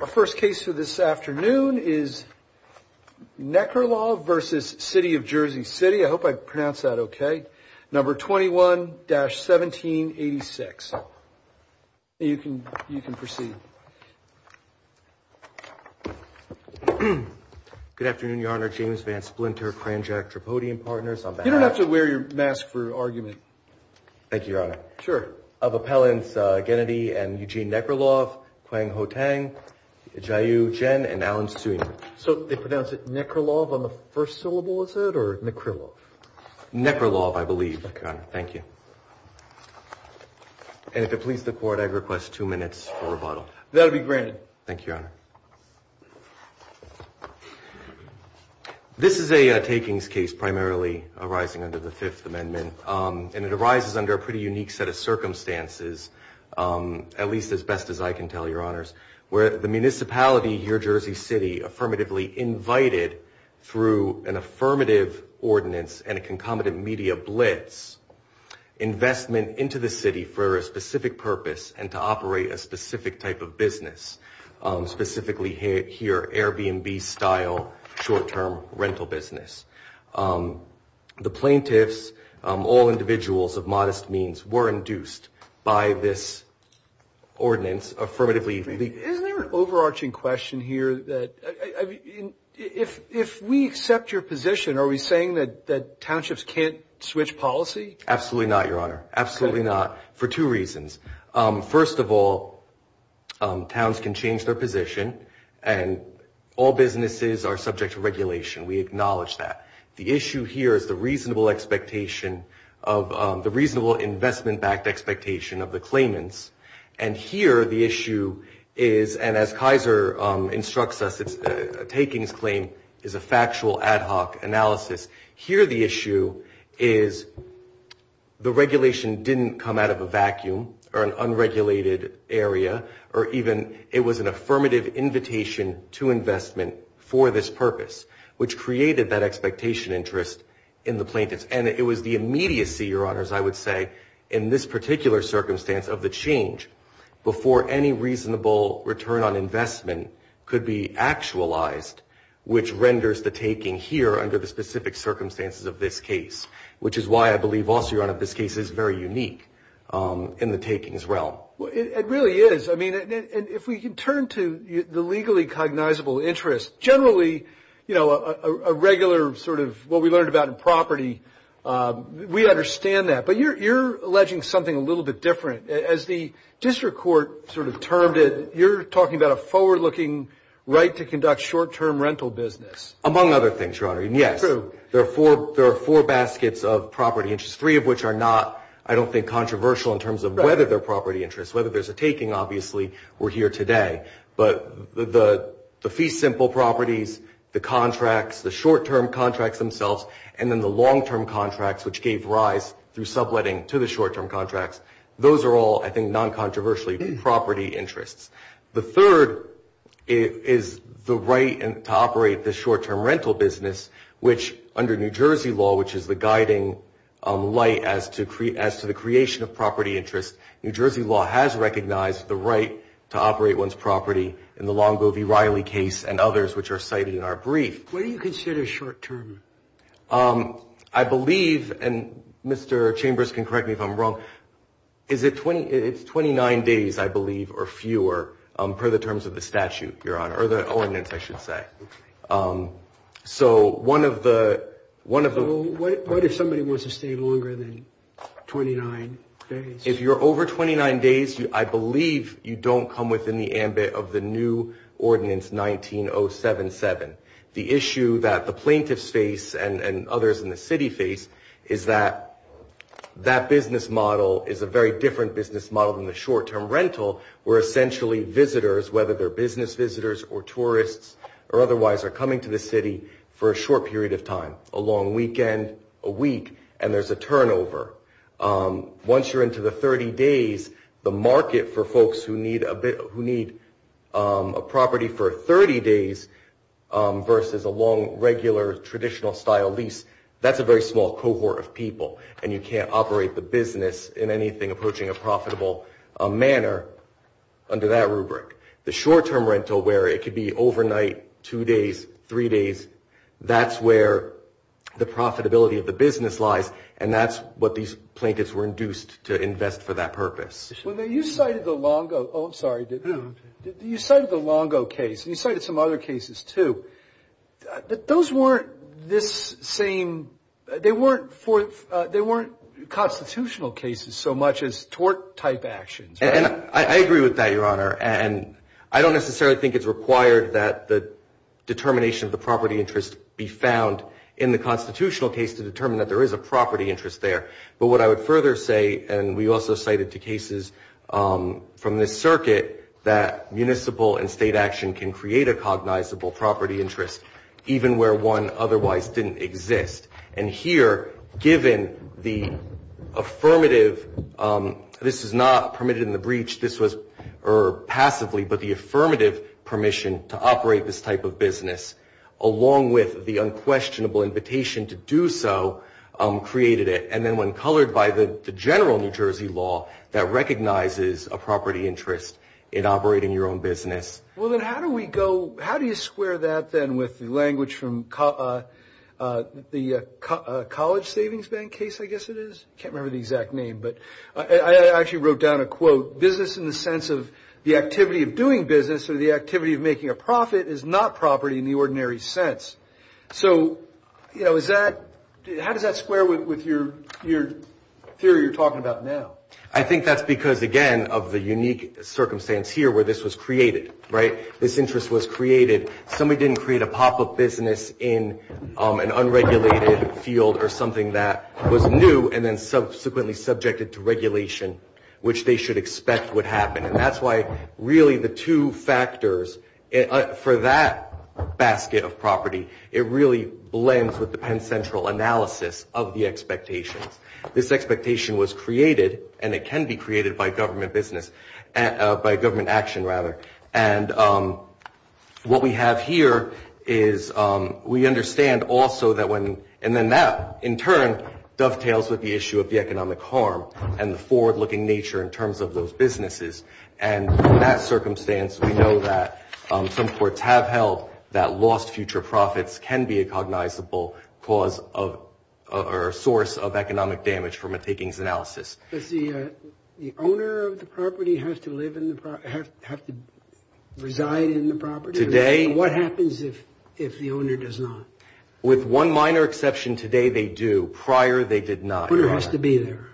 Our first case for this afternoon is Nekrilov v. City of Jersey City. I hope I pronounced that okay. Number 21-1786. You can proceed. Good afternoon, Your Honor. James Van Splinter, Cranjack Tripodium Partners. You don't have to wear your mask for argument. Thank you, Your Honor. John Stang, Jiu Chen, and Allen Stooner. So they pronounce it Nekrilov on the first syllable, is it, or Nekrilov? Nekrilov, I believe, Your Honor. Thank you. And if it please the Court I request two minutes for rebuttal. That will be granted. Thank you, Your Honor. This is a takings case primarily arising under the Fifth Amendment. And it arises under a pretty unique set of circumstances, at least as best as I can tell, Your Honor. Where the municipality here, Jersey City, affirmatively invited, through an affirmative ordinance and a concomitant media blitz, investment into the city for a specific purpose and to operate a specific type of business. Specifically here, Airbnb-style short-term rental business. The plaintiffs, all individuals of modest means, were induced by this ordinance, affirmatively Isn't there an overarching question here that, if we accept your position, are we saying that townships can't switch policy? Absolutely not, Your Honor. Absolutely not. For two reasons. First of all, towns can change their position and all businesses are subject to regulation. We acknowledge that. The issue here is the reasonable expectation of, the reasonable investment-backed expectation of the claimants. And here the issue is, and as Kaiser instructs us, a takings claim is a factual ad hoc analysis. Here the issue is the regulation didn't come out of a vacuum or an unregulated area or even it was an affirmative invitation to investment for this purpose, which created that expectation interest in the plaintiffs. And it was the particular circumstance of the change before any reasonable return on investment could be actualized, which renders the taking here under the specific circumstances of this case, which is why I believe also, Your Honor, this case is very unique in the takings realm. It really is. I mean, if we can turn to the legally cognizable interest, generally a regular sort of what we learned about in property, we understand that. But you're alleging something a little bit different. As the district court sort of termed it, you're talking about a forward-looking right to conduct short-term rental business. Among other things, Your Honor. And yes, there are four baskets of property interest, three of which are not, I don't think, controversial in terms of whether they're property interest, whether there's a taking, obviously, we're here today. But the fee simple properties, the contracts, the short-term contracts themselves, and then the long-term contracts, which gave rise through subletting to the short-term contracts, those are all, I think, non-controversially property interests. The third is the right to operate the short-term rental business, which under New Jersey law, which is the guiding light as to the creation of property interest, New Jersey law has recognized the right to operate one's property in the Longo v. Riley case and others, which are cited in our brief. What do you consider short-term? I believe, and Mr. Chambers can correct me if I'm wrong, it's 29 days, I believe, or fewer, per the terms of the statute, Your Honor, or the ordinance, I should say. So what if somebody wants to stay longer than 29 days? If you're over 29 days, I believe you don't come within the ambit of the new ordinance 19077. The issue that the plaintiffs face and others in the city face is that that business model is a very different business model than the short-term rental, where essentially visitors, whether they're business visitors or tourists or otherwise, are coming to the city for a short period of time, a long weekend, a week, and there's a turnover. Once you're into the 30 days, the market for folks who need a property for 30 days versus a long, regular, traditional-style lease, that's a very small cohort of people, and you can't operate the business in anything approaching a profitable manner under that rubric. The short-term rental, where it could be overnight, two days, three days, that's where the profitability of the business lies, and that's what these plaintiffs were induced to invest for that purpose. When you cited the Longo case, and you cited some other cases, too, those weren't constitutional cases so much as tort-type actions, right? I agree with that, Your Honor, and I don't necessarily think it's required that the determination of the property interest be found in the constitutional case to determine that there is a property interest there, but what I would further say, and we also cited two cases from this circuit, that municipal and state action can create a cognizable property interest even where one otherwise didn't exist, and here, given the affirmative, this is not permitted in the breach, this was, or passively, but the affirmative permission to operate this type of business, along with the unquestionable invitation to do so, created it, and then when colored by the general New Jersey law, that recognizes a property interest in operating your own business. Well, then, how do we go, how do you square that, then, with the language from the College Savings Bank case, I guess it is, can't remember the exact name, but I actually wrote down a quote, business in the sense of the activity of doing business or the activity of making a profit is not property in the ordinary sense, so, you know, is that, how does that square with your theory you're talking about now? I think that's because, again, of the unique circumstance here where this was created, right, this interest was created, somebody didn't create a pop-up business in an unregulated field or something that was new and then subsequently subjected to regulation, which they should expect would happen, and that's why, really, the two factors for that basket of property, it really blends with the Penn Central analysis of the expectations. This expectation was created, and it can be created by government business, by government action, rather, and what we have here is we understand also that when, and then that, in turn, dovetails with the issue of the economic harm and the forward-looking nature in terms of those businesses, and in that circumstance, we know that some courts have held that lost future profits can be a cognizable cause of, or source of economic damage from a takings analysis. Does the owner of the property have to live in the, have to reside in the property? Today. What happens if the owner does not? With one minor exception, today they do, prior they did not. The owner has to be there.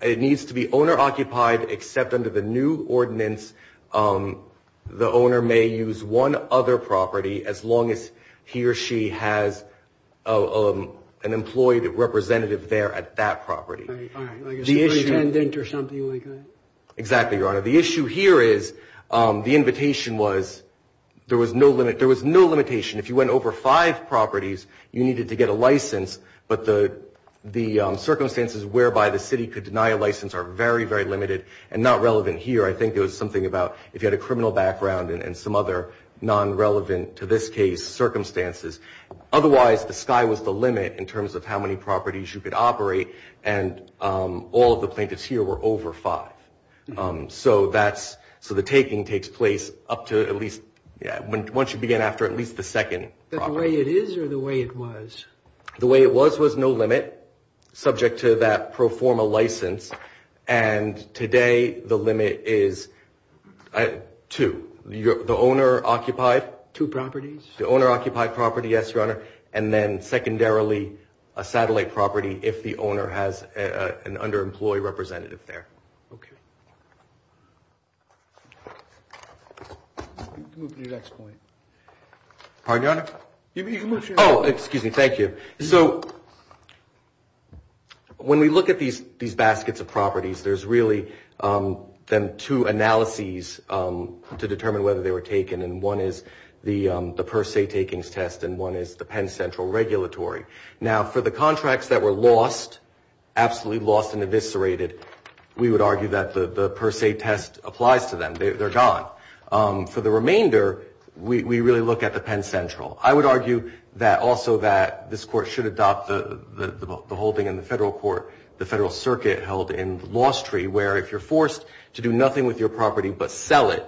It needs to be owner-occupied, except under the new ordinance, the owner may use one other property as long as he or she has an employee representative there at that property. All right. Like a superintendent or something like that? Exactly, Your Honor. The issue here is the invitation was, there was no limit, there was no limitation. If you went over five properties, you needed to get a license, but the circumstances whereby the city could deny a license are very, very limited and not relevant here. I think it was something about, if you had a criminal background and some other non-relevant to this case circumstances, otherwise the sky was the limit in terms of how many properties you could operate, and all of the plaintiffs here were over five. So that's, so the taking takes place up to at least, once you begin after at least the second property. The way it is or the way it was? The way it was was no limit, subject to that pro forma license, and today the limit is two, the owner-occupied. Two properties? The owner-occupied property, yes, Your Honor, and then secondarily, a satellite property if the owner has an underemployed representative there. Okay. You can move to your next point. Pardon, Your Honor? You can move to your next point. Oh, excuse me, thank you. So, when we look at these baskets of properties, there's really then two analyses to determine whether they were taken, and one is the per se takings test, and one is the Penn Central Regulatory. Now, for the contracts that were lost, absolutely lost and eviscerated, we would argue that the per se test applies to them. They're gone. For the remainder, we really look at the Penn Central. I would argue that also that this Court should adopt the holding in the Federal Court, the Federal Circuit held in the Lost Tree, where if you're forced to do nothing with your property but sell it,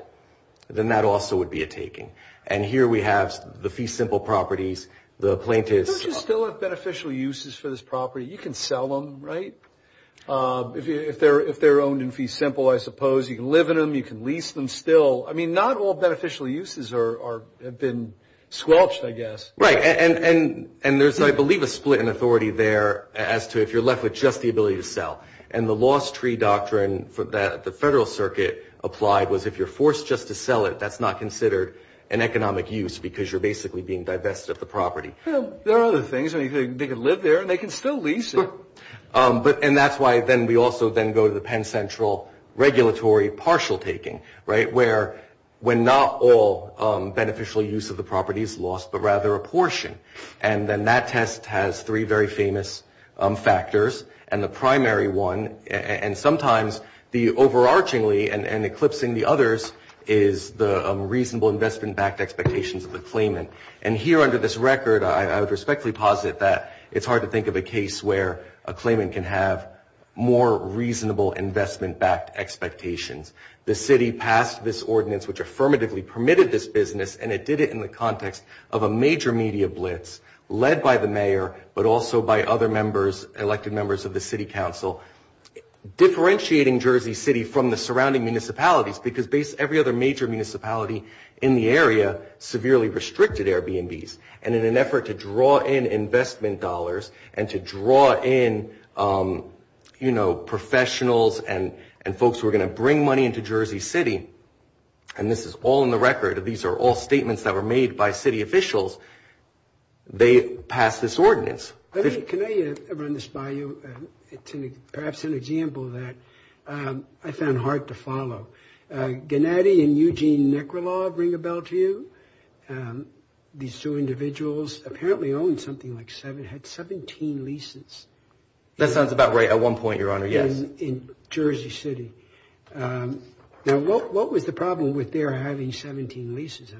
then that also would be a taking. And here we have the fee simple properties, the plaintiff's- There's a lot of beneficial uses for this property. You can sell them, right, if they're owned in fee simple, I suppose. You can live in them. You can lease them still. I mean, not all beneficial uses have been squelched, I guess. Right, and there's, I believe, a split in authority there as to if you're left with just the ability to sell. And the Lost Tree doctrine that the Federal Circuit applied was if you're forced just to sell it, that's not considered an economic use because you're basically being divested of the property. Well, there are other things. I mean, they can live there and they can still lease it. And that's why then we also then go to the Penn Central regulatory partial taking, right, when not all beneficial use of the property is lost but rather a portion. And then that test has three very famous factors. And the primary one, and sometimes the overarchingly and eclipsing the others, is the reasonable investment-backed expectations of the claimant. And here under this record, I would respectfully posit that it's hard to think of a case where a claimant can have more reasonable investment-backed expectations. The city passed this ordinance which affirmatively permitted this business, and it did it in the context of a major media blitz led by the mayor but also by other members, elected members of the city council, differentiating Jersey City from the surrounding municipalities because every other major municipality in the area severely restricted Airbnbs. And in an effort to draw in investment dollars and to draw in, you know, professionals and folks who are going to bring money into Jersey City, and this is all in the record, these are all statements that were made by city officials, they passed this ordinance. I mean, can I run this by you, perhaps an example that I found hard to follow. Gennady and Eugene Necrolaw, ring a bell to you? These two individuals apparently owned something like seven, had 17 leases. That sounds about right at one point, Your Honor, yes. In Jersey City. Now, what was the problem with their having 17 leases?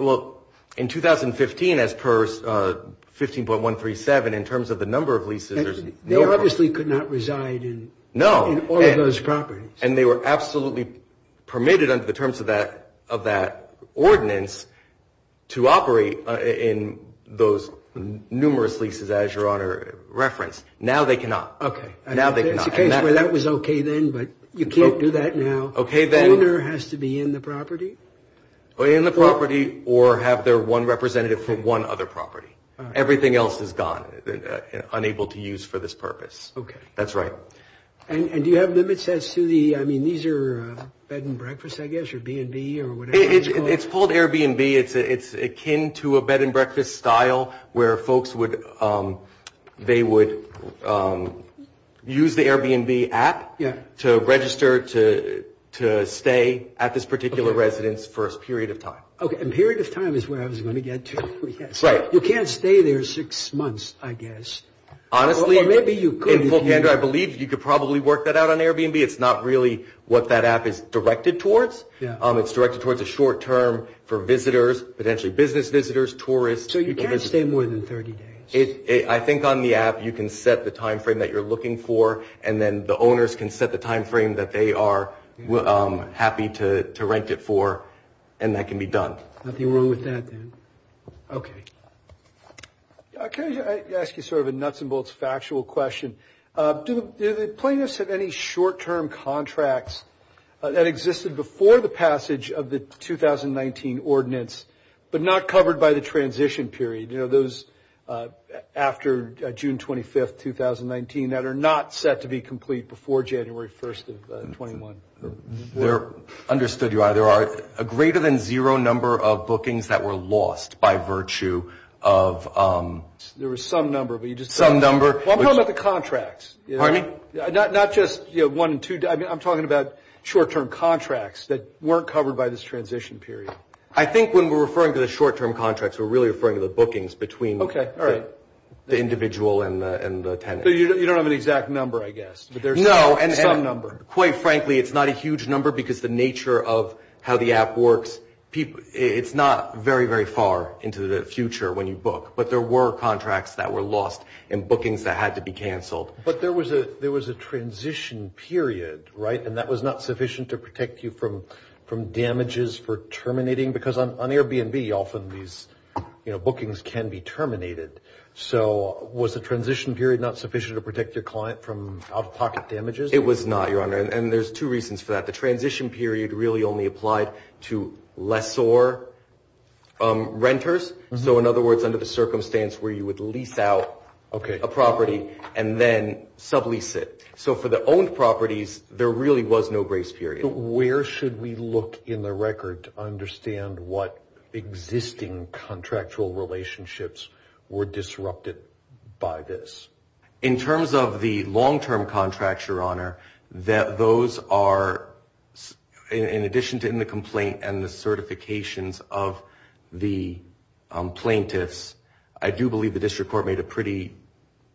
Well, in 2015, as per 15.137, in terms of the number of leases, they obviously could not reside in all of those properties. And they were absolutely permitted under the terms of that ordinance to operate in those numerous leases, as Your Honor referenced. Now they cannot. Okay. Now they cannot. That was okay then, but you can't do that now. Okay then. So the owner has to be in the property? In the property, or have their one representative for one other property. Everything else is gone, unable to use for this purpose. Okay. That's right. And do you have limits as to the, I mean, these are bed and breakfast, I guess, or B&B, or whatever it's called? It's called Airbnb, it's akin to a bed and breakfast style, where folks would, they would use the Airbnb app to register to stay at this particular residence for a period of time. Okay, and period of time is where I was going to get to. Right. You can't stay there six months, I guess. Honestly, in full candor, I believe you could probably work that out on Airbnb, it's not really what that app is directed towards. It's directed towards a short term for visitors, potentially business visitors, tourists. So you can't stay more than 30 days? I think on the app, you can set the timeframe that you're looking for, and then the owners can set the timeframe that they are happy to rent it for, and that can be done. Nothing wrong with that, then. Okay. Can I ask you sort of a nuts and bolts factual question? Do the plaintiffs have any short term contracts that existed before the passage of the 2019 ordinance, but not covered by the transition period? You know, those after June 25th, 2019, that are not set to be complete before January 1st of 21? Understood, your honor. There are a greater than zero number of bookings that were lost by virtue of... There was some number, but you just... Some number... Well, I'm talking about the contracts. Pardon me? Not just one and two, I'm talking about short term contracts that weren't covered by this transition period. I think when we're referring to the short term contracts, we're really referring to the bookings between the individual and the tenant. You don't have an exact number, I guess, but there's some number. No, and quite frankly, it's not a huge number because the nature of how the app works, it's not very, very far into the future when you book, but there were contracts that were lost and bookings that had to be canceled. But there was a transition period, right, and that was not sufficient to protect you from damages for terminating, because on Airbnb, often these bookings can be terminated. So, was the transition period not sufficient to protect your client from out-of-pocket damages? It was not, your honor, and there's two reasons for that. The transition period really only applied to lessor renters. So, in other words, under the circumstance where you would lease out a property and then sublease it. So, for the owned properties, there really was no grace period. But where should we look in the record to understand what existing contractual relationships were disrupted by this? In terms of the long-term contracts, your honor, those are, in addition to in the complaint and the certifications of the plaintiffs, I do believe the district court made a pretty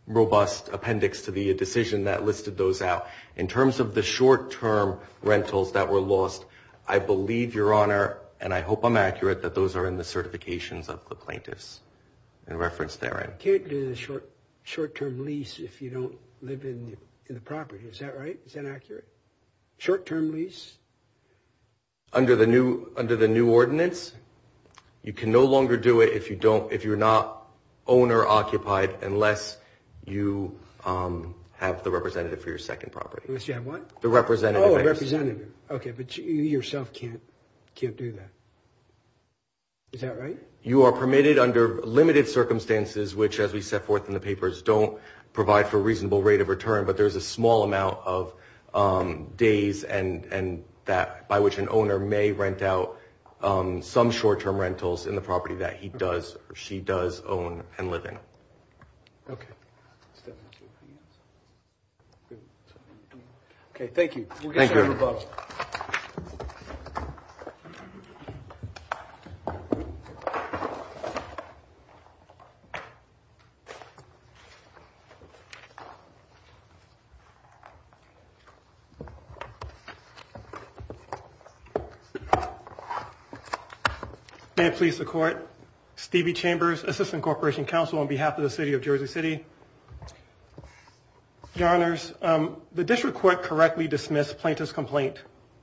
robust appendix to the decision that listed those out. In terms of the short-term rentals that were lost, I believe, your honor, and I hope I'm accurate, that those are in the certifications of the plaintiffs and referenced therein. You can't do the short-term lease if you don't live in the property. Is that right? Is that accurate? Short-term lease? Under the new ordinance, you can no longer do it if you're not owner-occupied unless you have the representative for your second property. You have what? The representative. Oh, a representative. Okay, but you yourself can't do that. Is that right? You are permitted under limited circumstances, which, as we set forth in the papers, don't provide for a reasonable rate of return, but there's a small amount of days by which an owner may rent out some short-term rentals in the property that he does or she does own and live in. Okay. Okay, thank you. We'll get some rebuttal. May it please the Court, Stevie Chambers, Assistant Corporation Counsel on behalf of the City of Jersey City. Your Honors, the District Court correctly dismissed plaintiff's complaint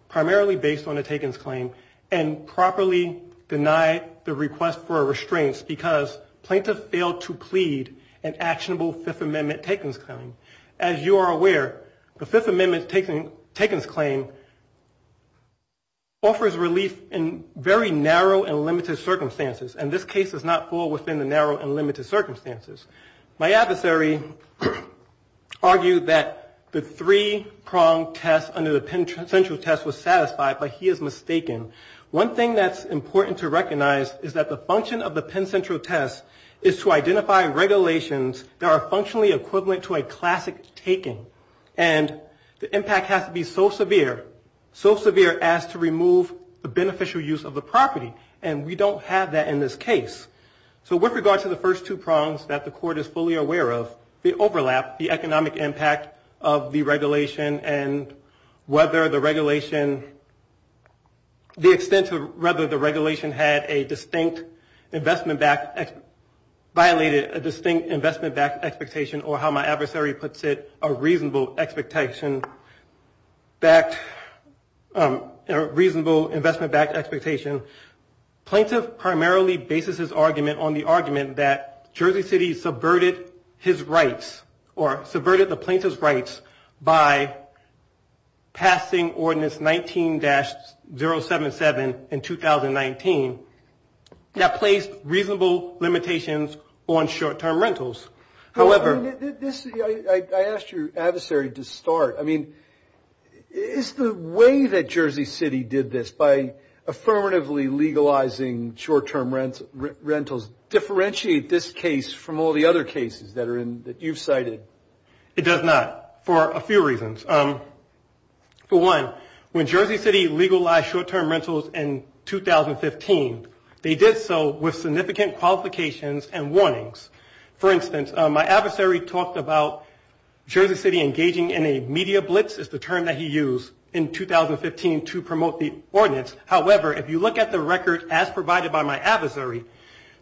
primarily based on a takings claim and properly denied the request for restraints because plaintiff failed to plead an actionable Fifth Amendment takings claim. As you are aware, the Fifth Amendment takings claim offers relief in very narrow and limited circumstances, and this case does not fall within the narrow and limited circumstances. My adversary argued that the three-prong test under the Penn Central test was satisfied, but he is mistaken. One thing that's important to recognize is that the function of the Penn Central test is to And the impact has to be so severe, so severe as to remove the beneficial use of the property, and we don't have that in this case. So with regard to the first two prongs that the Court is fully aware of, the overlap, the economic impact of the regulation and whether the regulation, the extent to whether the regulation had a distinct investment-backed, violated a distinct investment-backed expectation or how my adversary puts it, a reasonable investment-backed expectation. Plaintiff primarily bases his argument on the argument that Jersey City subverted his rights or subverted the plaintiff's rights by passing Ordinance 19-077 in 2019 that placed reasonable limitations on short-term rentals. However... I asked your adversary to start. I mean, is the way that Jersey City did this by affirmatively legalizing short-term rentals differentiate this case from all the other cases that you've cited? It does not for a few reasons. For one, when Jersey City legalized short-term rentals in 2015, they did so with significant qualifications and warnings. For instance, my adversary talked about Jersey City engaging in a media blitz is the term that he used in 2015 to promote the ordinance. However, if you look at the record as provided by my adversary,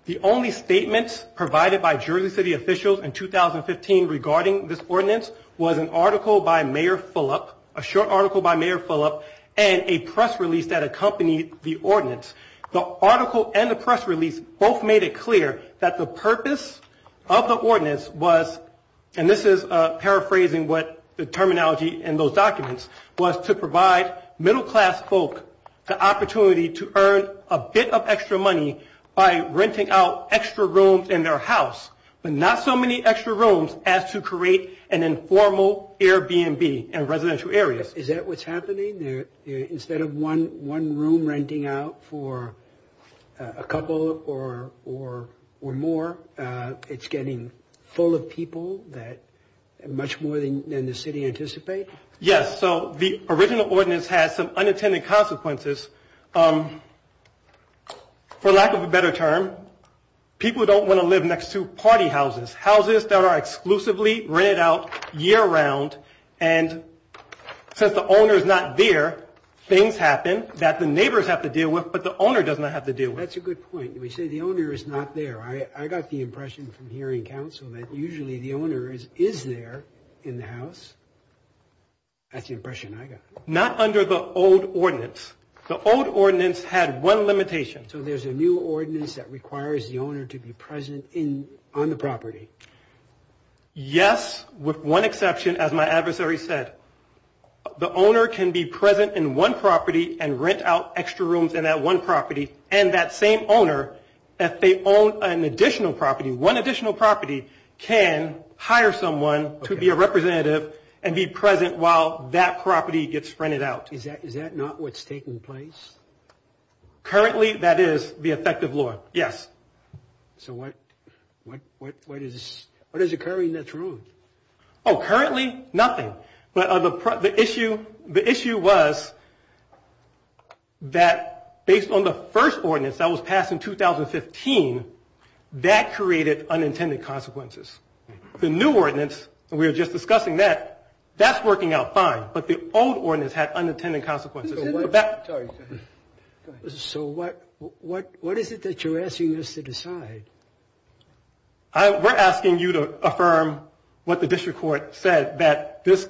the only statements provided by Jersey City officials in 2015 regarding this ordinance was an article by Mayor Fulop, a short article by Mayor Fulop and a press release that accompanied the ordinance. The article and the press release both made it clear that the purpose of the ordinance was, and this is paraphrasing what the terminology in those documents, was to provide middle-class folk the opportunity to earn a bit of extra money by renting out extra rooms in their house, but not so many extra rooms as to create an informal Airbnb in residential areas. Is that what's happening? Instead of one room renting out for a couple or more, it's getting full of people that much more than the city anticipates? Yes. So the original ordinance has some unintended consequences. For lack of a better term, people don't want to live next to party houses, houses that are exclusively rented out year-round, and since the owner's not there, things happen that the neighbors have to deal with, but the owner does not have to deal with. That's a good point. You say the owner is not there. I got the impression from hearing counsel that usually the owner is there in the house. That's the impression I got. Not under the old ordinance. The old ordinance had one limitation. So there's a new ordinance that requires the owner to be present on the property? Yes, with one exception, as my adversary said. The owner can be present in one property and rent out extra rooms in that one property, and that same owner, if they own an additional property, one additional property, can hire someone to be a representative and be present while that property gets rented out. Is that not what's taking place? Currently, that is the effective law. Yes. So what is occurring that's wrong? Oh, currently, nothing. But the issue was that based on the first ordinance that was passed in 2015, that created unintended consequences. The new ordinance, and we were just discussing that, that's working out fine, but the old ordinance had unintended consequences. Sorry, go ahead. So what is it that you're asking us to decide? We're asking you to affirm what the district court said, that this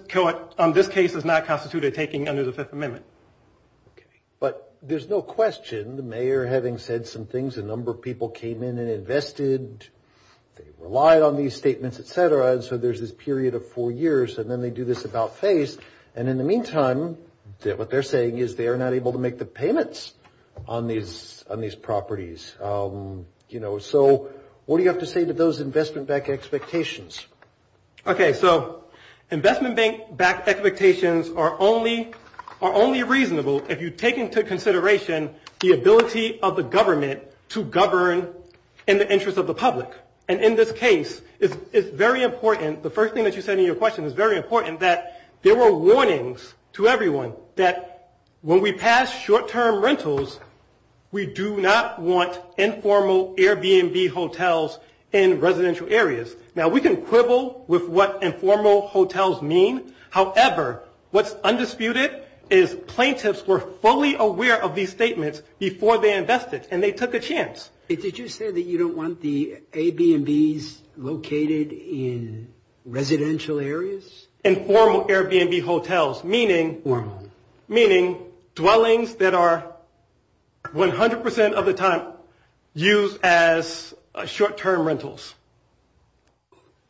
case is not constituted taking under the Fifth Amendment. Okay. But there's no question, the mayor having said some things, a number of people came in and invested, they relied on these statements, et cetera, and so there's this period of four years, and then they do this about face. And in the meantime, what they're saying is they are not able to make the payments on these properties. So what do you have to say to those investment-backed expectations? Okay, so investment-backed expectations are only reasonable if you take into consideration the ability of the government to govern in the interest of the public. And in this case, it's very important, the first thing that you said in your question is very important, that there were warnings to everyone that when we pass short-term rentals, we do not want informal Airbnb hotels in residential areas. Now, we can quibble with what informal hotels mean. However, what's undisputed is plaintiffs were fully aware of these statements before they invested, and they took a chance. Did you say that you don't want the Airbnbs located in residential areas? Informal Airbnb hotels, meaning dwellings that are 100% of the time used as short-term rentals.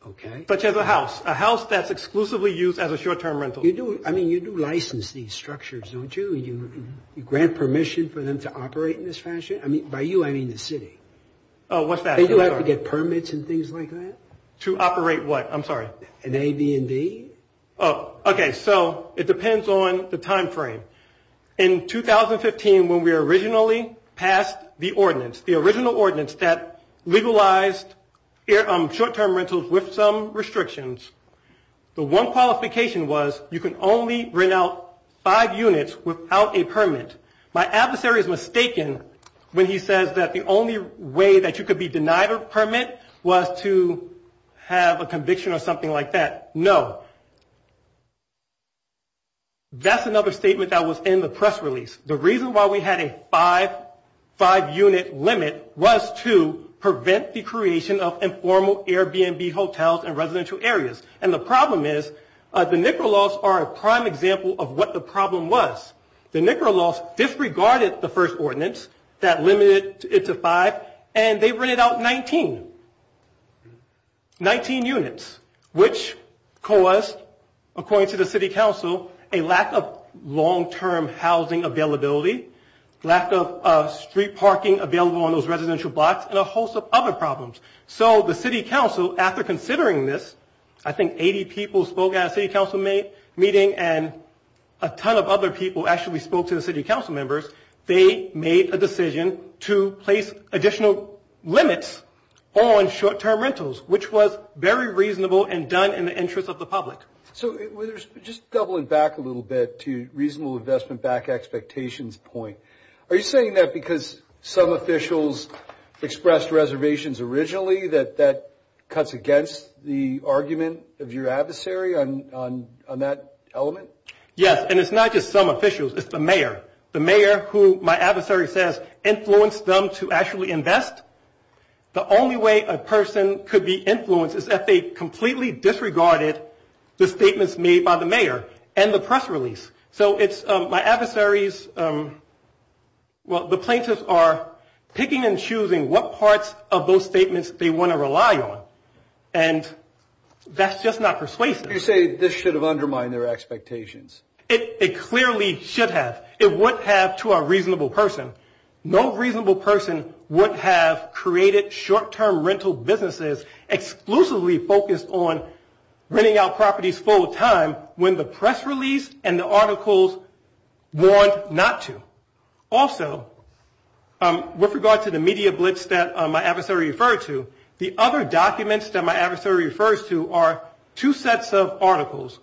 Okay. Such as a house, a house that's exclusively used as a short-term rental. I mean, you do license these structures, don't you? You grant permission for them to operate in this fashion? By you, I mean the city. Oh, what's that? They do have to get permits and things like that? To operate what? I'm sorry. An Airbnb? Oh, okay. So, it depends on the time frame. In 2015, when we originally passed the ordinance, the original ordinance that legalized short-term rentals with some restrictions, the one qualification was you can only rent out five units without a permit. My adversary is mistaken when he says that the only way that you could be denied a permit was to have a conviction or something like that. No. That's another statement that was in the press release. The reason why we had a five-unit limit was to prevent the creation of informal Airbnb hotels in residential areas. And the problem is the NICRA laws are a prime example of what the problem was. The NICRA laws disregarded the first ordinance that limited it to five, and they rented out 19. Nineteen units, which caused, according to the city council, a lack of long-term housing availability, lack of street parking available on those residential blocks, and a host of other problems. So, the city council, after considering this, I think 80 people spoke at a city council meeting, and a ton of other people actually spoke to the city council members. They made a decision to place additional limits on short-term rentals, which was very reasonable and done in the interest of the public. So, just doubling back a little bit to reasonable investment back expectations point, are you saying that because some officials expressed reservations originally that that cuts against the argument of your adversary on that element? Yes, and it's not just some officials. It's the mayor, the mayor who my adversary says influenced them to actually invest. The only way a person could be influenced is if they completely disregarded the statements made by the mayor and the press release. So, it's my adversary's, well, the plaintiffs are picking and choosing what parts of those statements they want to rely on, and that's just not persuasive. You say this should have undermined their expectations. It clearly should have. It would have to a reasonable person. No reasonable person would have created short-term rental businesses exclusively focused on renting out properties full-time when the press release and the articles warned not to. Also, with regard to the media blitz that my adversary referred to, the other documents that my adversary refers to are two sets of articles.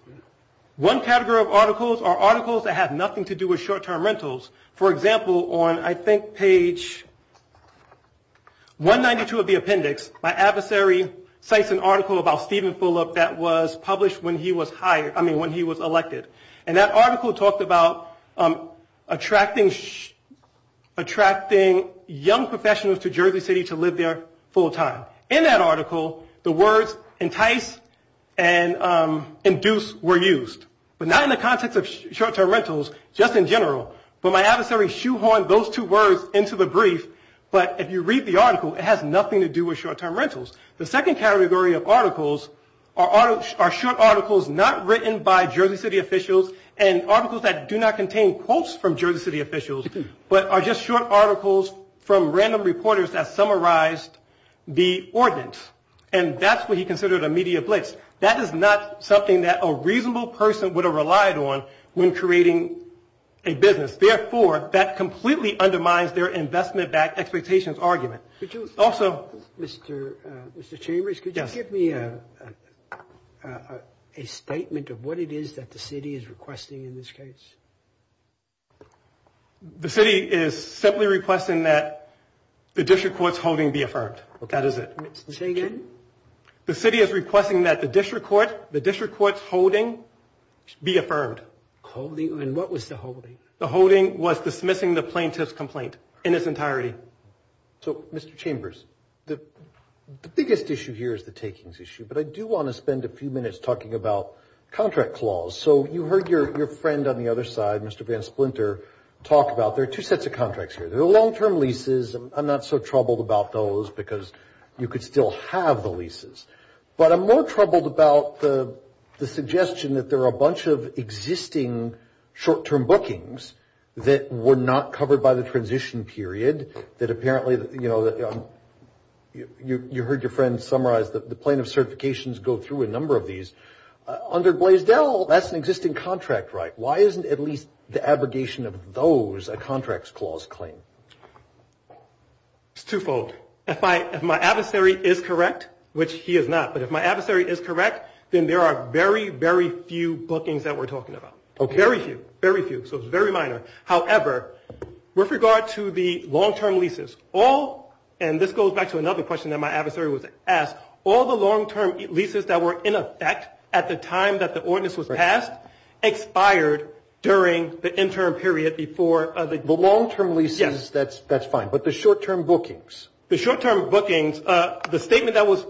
One category of articles are articles that have nothing to do with short-term rentals. For example, on I think page 192 of the appendix, my adversary cites an article about Stephen Fulop that was published when he was elected, and that article talked about attracting young professionals to Jersey City to live there full-time. In that article, the words entice and induce were used, but not in the context of short-term rentals, just in general. But my adversary shoehorned those two words into the brief, but if you read the article, it has nothing to do with short-term rentals. The second category of articles are short articles not written by Jersey City officials and articles that do not contain quotes from Jersey City officials, but are just short articles from random reporters that summarized the ordinance, and that's what he considered a media blitz. That is not something that a reasonable person would have relied on when creating a business. Therefore, that completely undermines their investment-backed expectations argument. Also Mr. Chambers, could you give me a statement of what it is that the city is requesting in this case? The city is simply requesting that the district court's holding be affirmed. That is it. The city is requesting that the district court's holding be affirmed. And what was the holding? The holding was dismissing the plaintiff's complaint in its entirety. So Mr. Chambers, the biggest issue here is the takings issue, but I do want to spend a few minutes talking about contract clause. So you heard your friend on the other side, Mr. Van Splinter, talk about there are two sets of contracts here. There are long-term leases. I'm not so troubled about those because you could still have the leases, but I'm more troubled about the suggestion that there are a bunch of existing short-term bookings that were not covered by the transition period that apparently, you know, you heard your friend summarize that the plaintiff's certifications go through a number of these. Under Blaisdell, that's an existing contract, right? Why isn't at least the abrogation of those a contracts clause claim? It's twofold. If my adversary is correct, which he is not, but if my adversary is correct, then there are very, very few bookings that we're talking about. Okay. Very few. Very few. So it's very minor. However, with regard to the long-term leases, all, and this goes back to another question that my adversary was asked, all the long-term leases that were in effect at the time that the ordinance was passed expired during the interim period before the. The long-term leases. Yes. That's fine. But the short-term bookings. The short-term bookings. The statement that was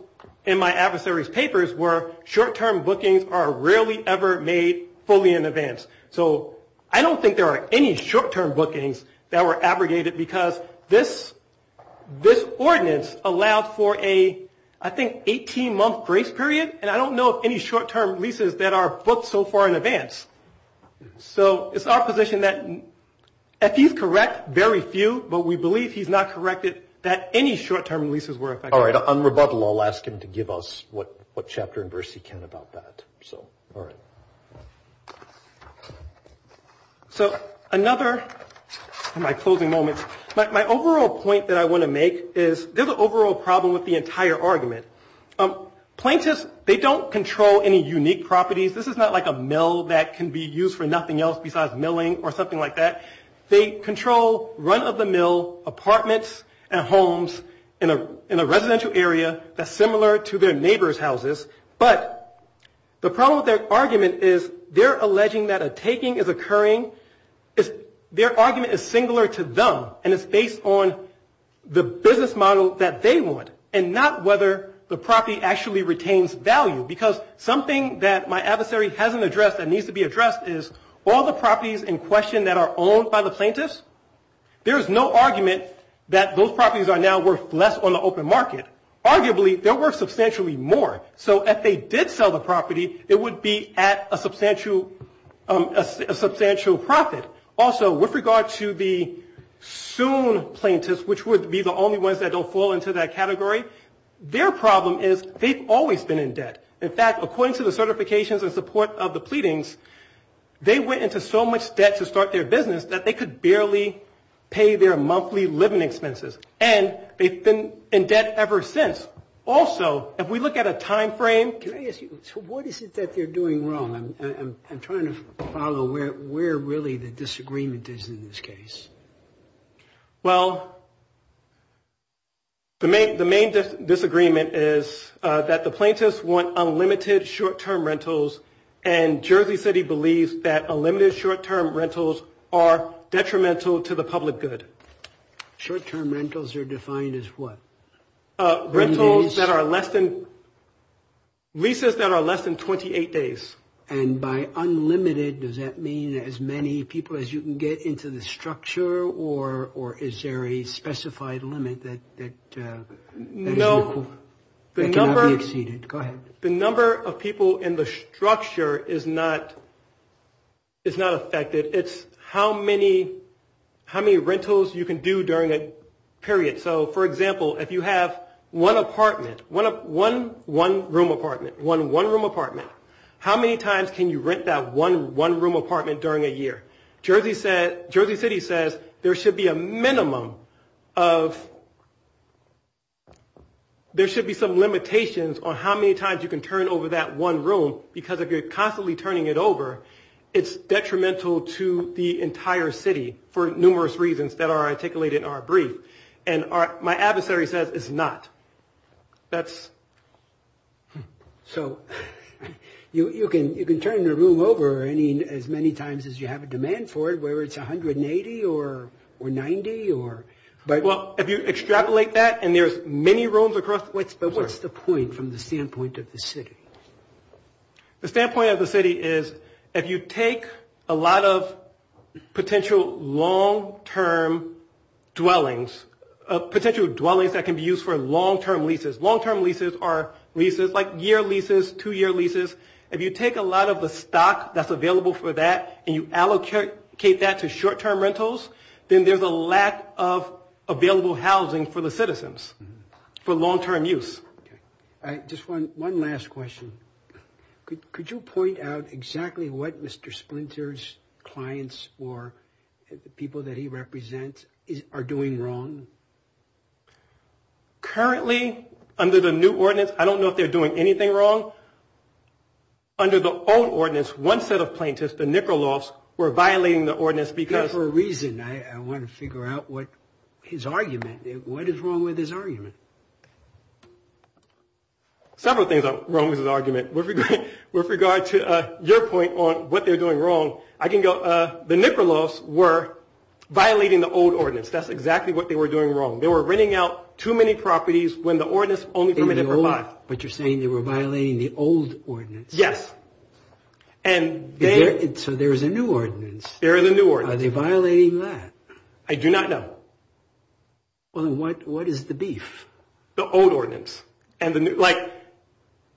in my adversary's papers were short-term bookings are rarely ever made fully in advance. So I don't think there are any short-term bookings that were abrogated because this ordinance allowed for a, I think, 18-month grace period, and I don't know of any short-term leases that are booked so far in advance. So it's our position that if he's correct, very few, but we believe he's not corrected that any short-term leases were in effect. All right. On rebuttal, I'll ask him to give us what chapter and verse he can about that. So, all right. So another, in my closing moments, my overall point that I want to make is there's an overall problem with the entire argument. Plaintiffs, they don't control any unique properties. This is not like a mill that can be used for nothing else besides milling or something like that. They control run-of-the-mill apartments and homes in a residential area that's similar to their neighbor's houses. But the problem with their argument is they're alleging that a taking is occurring. Their argument is singular to them, and it's based on the business model that they want and not whether the property actually retains value. Because something that my adversary hasn't addressed and needs to be addressed is all the properties in question that are owned by the plaintiffs, there is no argument that those properties are now worth less on the open market. Arguably, they're worth substantially more. So if they did sell the property, it would be at a substantial profit. Also, with regard to the soon plaintiffs, which would be the only ones that don't fall into that category, their problem is they've always been in debt. In fact, according to the certifications and support of the pleadings, they went into so much debt to start their business that they could barely pay their monthly living expenses. And they've been in debt ever since. Also, if we look at a time frame. Can I ask you, so what is it that they're doing wrong? I'm trying to follow where really the disagreement is in this case. Well, the main disagreement is that the plaintiffs want unlimited short-term rentals, and Jersey City believes that unlimited short-term rentals are detrimental to the public good. Short-term rentals are defined as what? Rentals that are less than, leases that are less than 28 days. And by unlimited, does that mean as many people as you can get into the structure, or is there a specified limit that cannot be exceeded? Go ahead. The number of people in the structure is not affected. It's how many rentals you can do during a period. So, for example, if you have one apartment, one one-room apartment, one one-room apartment, how many times can you rent that one one-room apartment during a year? Jersey City says there should be a minimum of, there should be some limitations on how many times you can turn over that one room, because if you're constantly turning it over, it's detrimental to the entire city for numerous reasons that are articulated in our brief. And my adversary says it's not. That's... So, you can turn the room over as many times as you have a demand for it, whether it's 180 or 90 or... Well, if you extrapolate that, and there's many rooms across... But what's the point from the standpoint of the city? The standpoint of the city is if you take a lot of potential long-term dwellings, potential dwellings that can be used for long-term leases. Long-term leases are leases like year leases, two-year leases. If you take a lot of the stock that's available for that and you allocate that to short-term rentals, then there's a lack of available housing for the citizens for long-term use. Just one last question. Could you point out exactly what Mr. Splinter's clients or the people that he represents are doing wrong? Currently, under the new ordinance, I don't know if they're doing anything wrong. Under the old ordinance, one set of plaintiffs, the Nikolaus, were violating the ordinance because... Several things are wrong with this argument. With regard to your point on what they're doing wrong, I can go, the Nikolaus were violating the old ordinance. That's exactly what they were doing wrong. They were renting out too many properties when the ordinance only permitted for five. But you're saying they were violating the old ordinance? Yes. So there is a new ordinance. There is a new ordinance. Are they violating that? I do not know. Well, then what is the beef? The old ordinance. Like,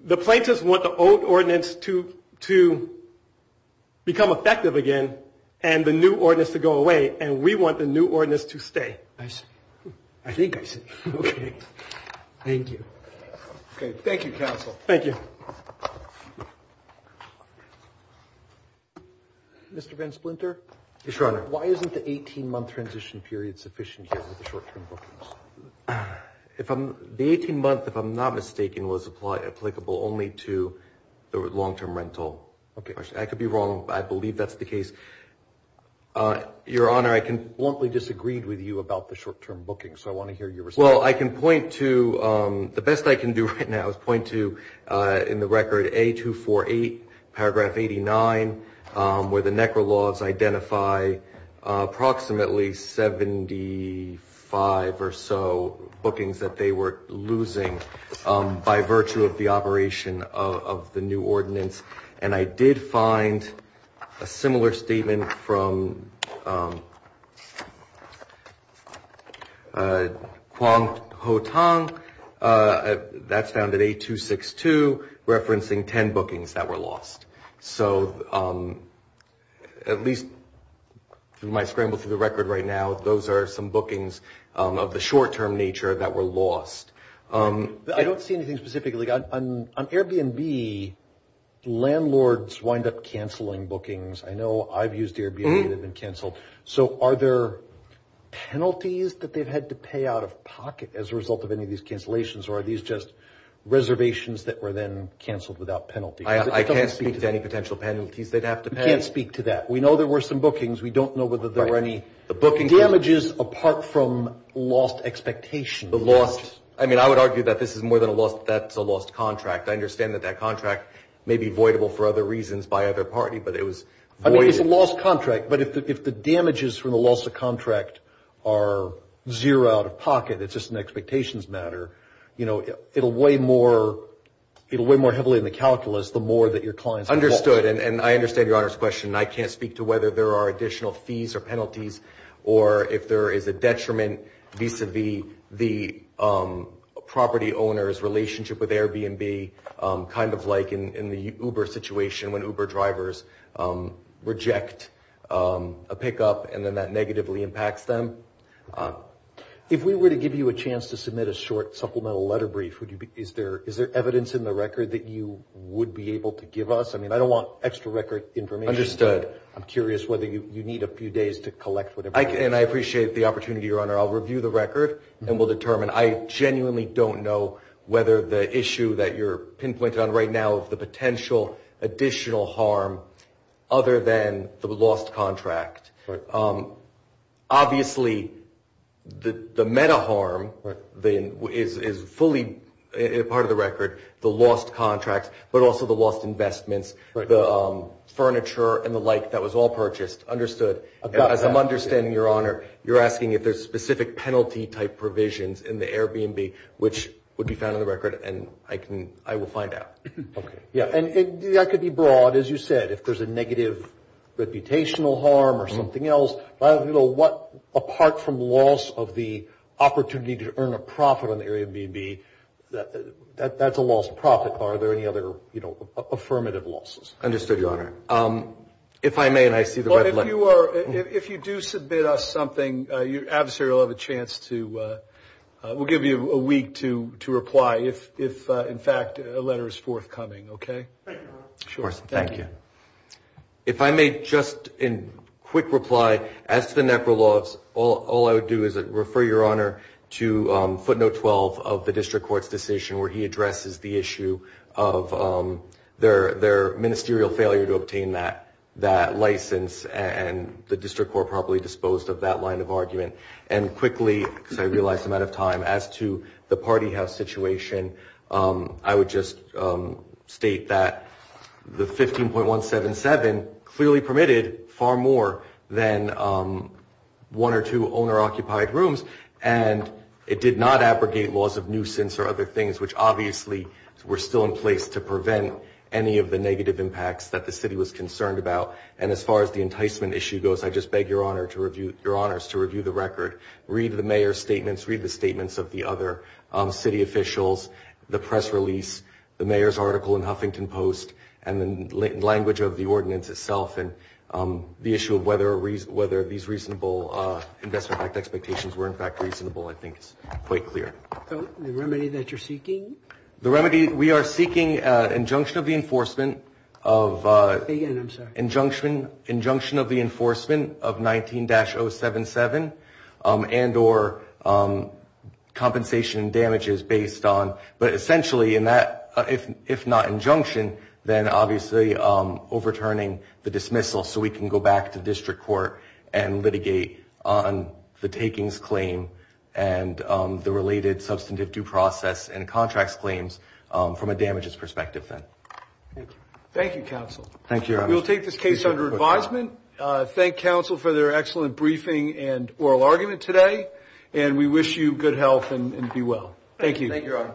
the plaintiffs want the old ordinance to become effective again and the new ordinance to go away, and we want the new ordinance to stay. I see. I think I see. Okay. Thank you. Okay. Thank you, counsel. Thank you. Mr. Ben Splinter? Yes, Your Honor. Why isn't the 18-month transition period sufficient here with the short-term bookings? The 18-month, if I'm not mistaken, was applicable only to the long-term rental. Okay. I could be wrong. I believe that's the case. Your Honor, I bluntly disagreed with you about the short-term bookings, so I want to hear your response. Well, I can point to the best I can do right now is point to, in the record, A248, paragraph 89, where the NECRA laws identify approximately 75 or so bookings that they were losing by virtue of the operation of the new ordinance, and I did find a similar statement from Kwong Ho-Tang. That's found at A262, referencing 10 bookings that were lost. So at least through my scramble through the record right now, those are some bookings of the short-term nature that were lost. I don't see anything specifically. On Airbnb, landlords wind up canceling bookings. So are there penalties that they've had to pay out of pocket as a result of any of these cancellations, or are these just reservations that were then canceled without penalty? I can't speak to any potential penalties they'd have to pay. You can't speak to that. We know there were some bookings. We don't know whether there were any bookings. Damages apart from lost expectations. I mean, I would argue that this is more than a loss. That's a lost contract. I understand that that contract may be voidable for other reasons by other parties, but it was voided. I mean, it's a lost contract. But if the damages from the loss of contract are zero out of pocket, it's just an expectations matter, you know, it'll weigh more heavily in the calculus the more that your clients have lost. Understood, and I understand Your Honor's question. I can't speak to whether there are additional fees or penalties, or if there is a detriment vis-à-vis the property owner's relationship with Airbnb, kind of like in the Uber situation when Uber drivers reject a pickup and then that negatively impacts them. If we were to give you a chance to submit a short supplemental letter brief, is there evidence in the record that you would be able to give us? I mean, I don't want extra record information. Understood. I'm curious whether you need a few days to collect whatever. And I appreciate the opportunity, Your Honor. I'll review the record and we'll determine. I genuinely don't know whether the issue that you're pinpointing on right now, the potential additional harm other than the lost contract. Obviously, the meta harm is fully part of the record, the lost contract, but also the lost investments, the furniture and the like that was all purchased. As I'm understanding, Your Honor, you're asking if there's specific penalty-type provisions in the Airbnb, which would be found in the record, and I will find out. Okay. Yeah, and that could be broad, as you said. If there's a negative reputational harm or something else, apart from loss of the opportunity to earn a profit on Airbnb, that's a lost profit. Are there any other affirmative losses? If I may, and I see the red letter. If you do submit us something, the adversary will have a chance to give you a week to reply if, in fact, a letter is forthcoming. Thank you, Your Honor. Of course. Thank you. If I may just, in quick reply, as to the net for loss, all I would do is refer Your Honor to footnote 12 of the district court's decision where he addresses the issue of their ministerial failure to obtain that license and the district court properly disposed of that line of argument. And quickly, because I realize I'm out of time, as to the party house situation, I would just state that the 15.177 clearly permitted far more than one or two owner-occupied rooms, and it did not abrogate laws of nuisance or other things, which obviously were still in place to prevent any of the negative impacts that the city was concerned about. And as far as the enticement issue goes, I just beg Your Honors to review the record, read the mayor's statements, read the statements of the other city officials, the press release, the mayor's article in Huffington Post, and the language of the ordinance itself, and the issue of whether these reasonable investment expectations were, in fact, reasonable, I think is quite clear. The remedy that you're seeking? The remedy we are seeking, injunction of the enforcement of 19-077 and or compensation and damages based on, but essentially in that, if not injunction, then obviously overturning the dismissal so we can go back to district court and litigate on the takings claim and the related substantive due process and contracts claims from a damages perspective then. Thank you, counsel. Thank you, Your Honor. We will take this case under advisement. Thank counsel for their excellent briefing and oral argument today, and we wish you good health and be well. Thank you.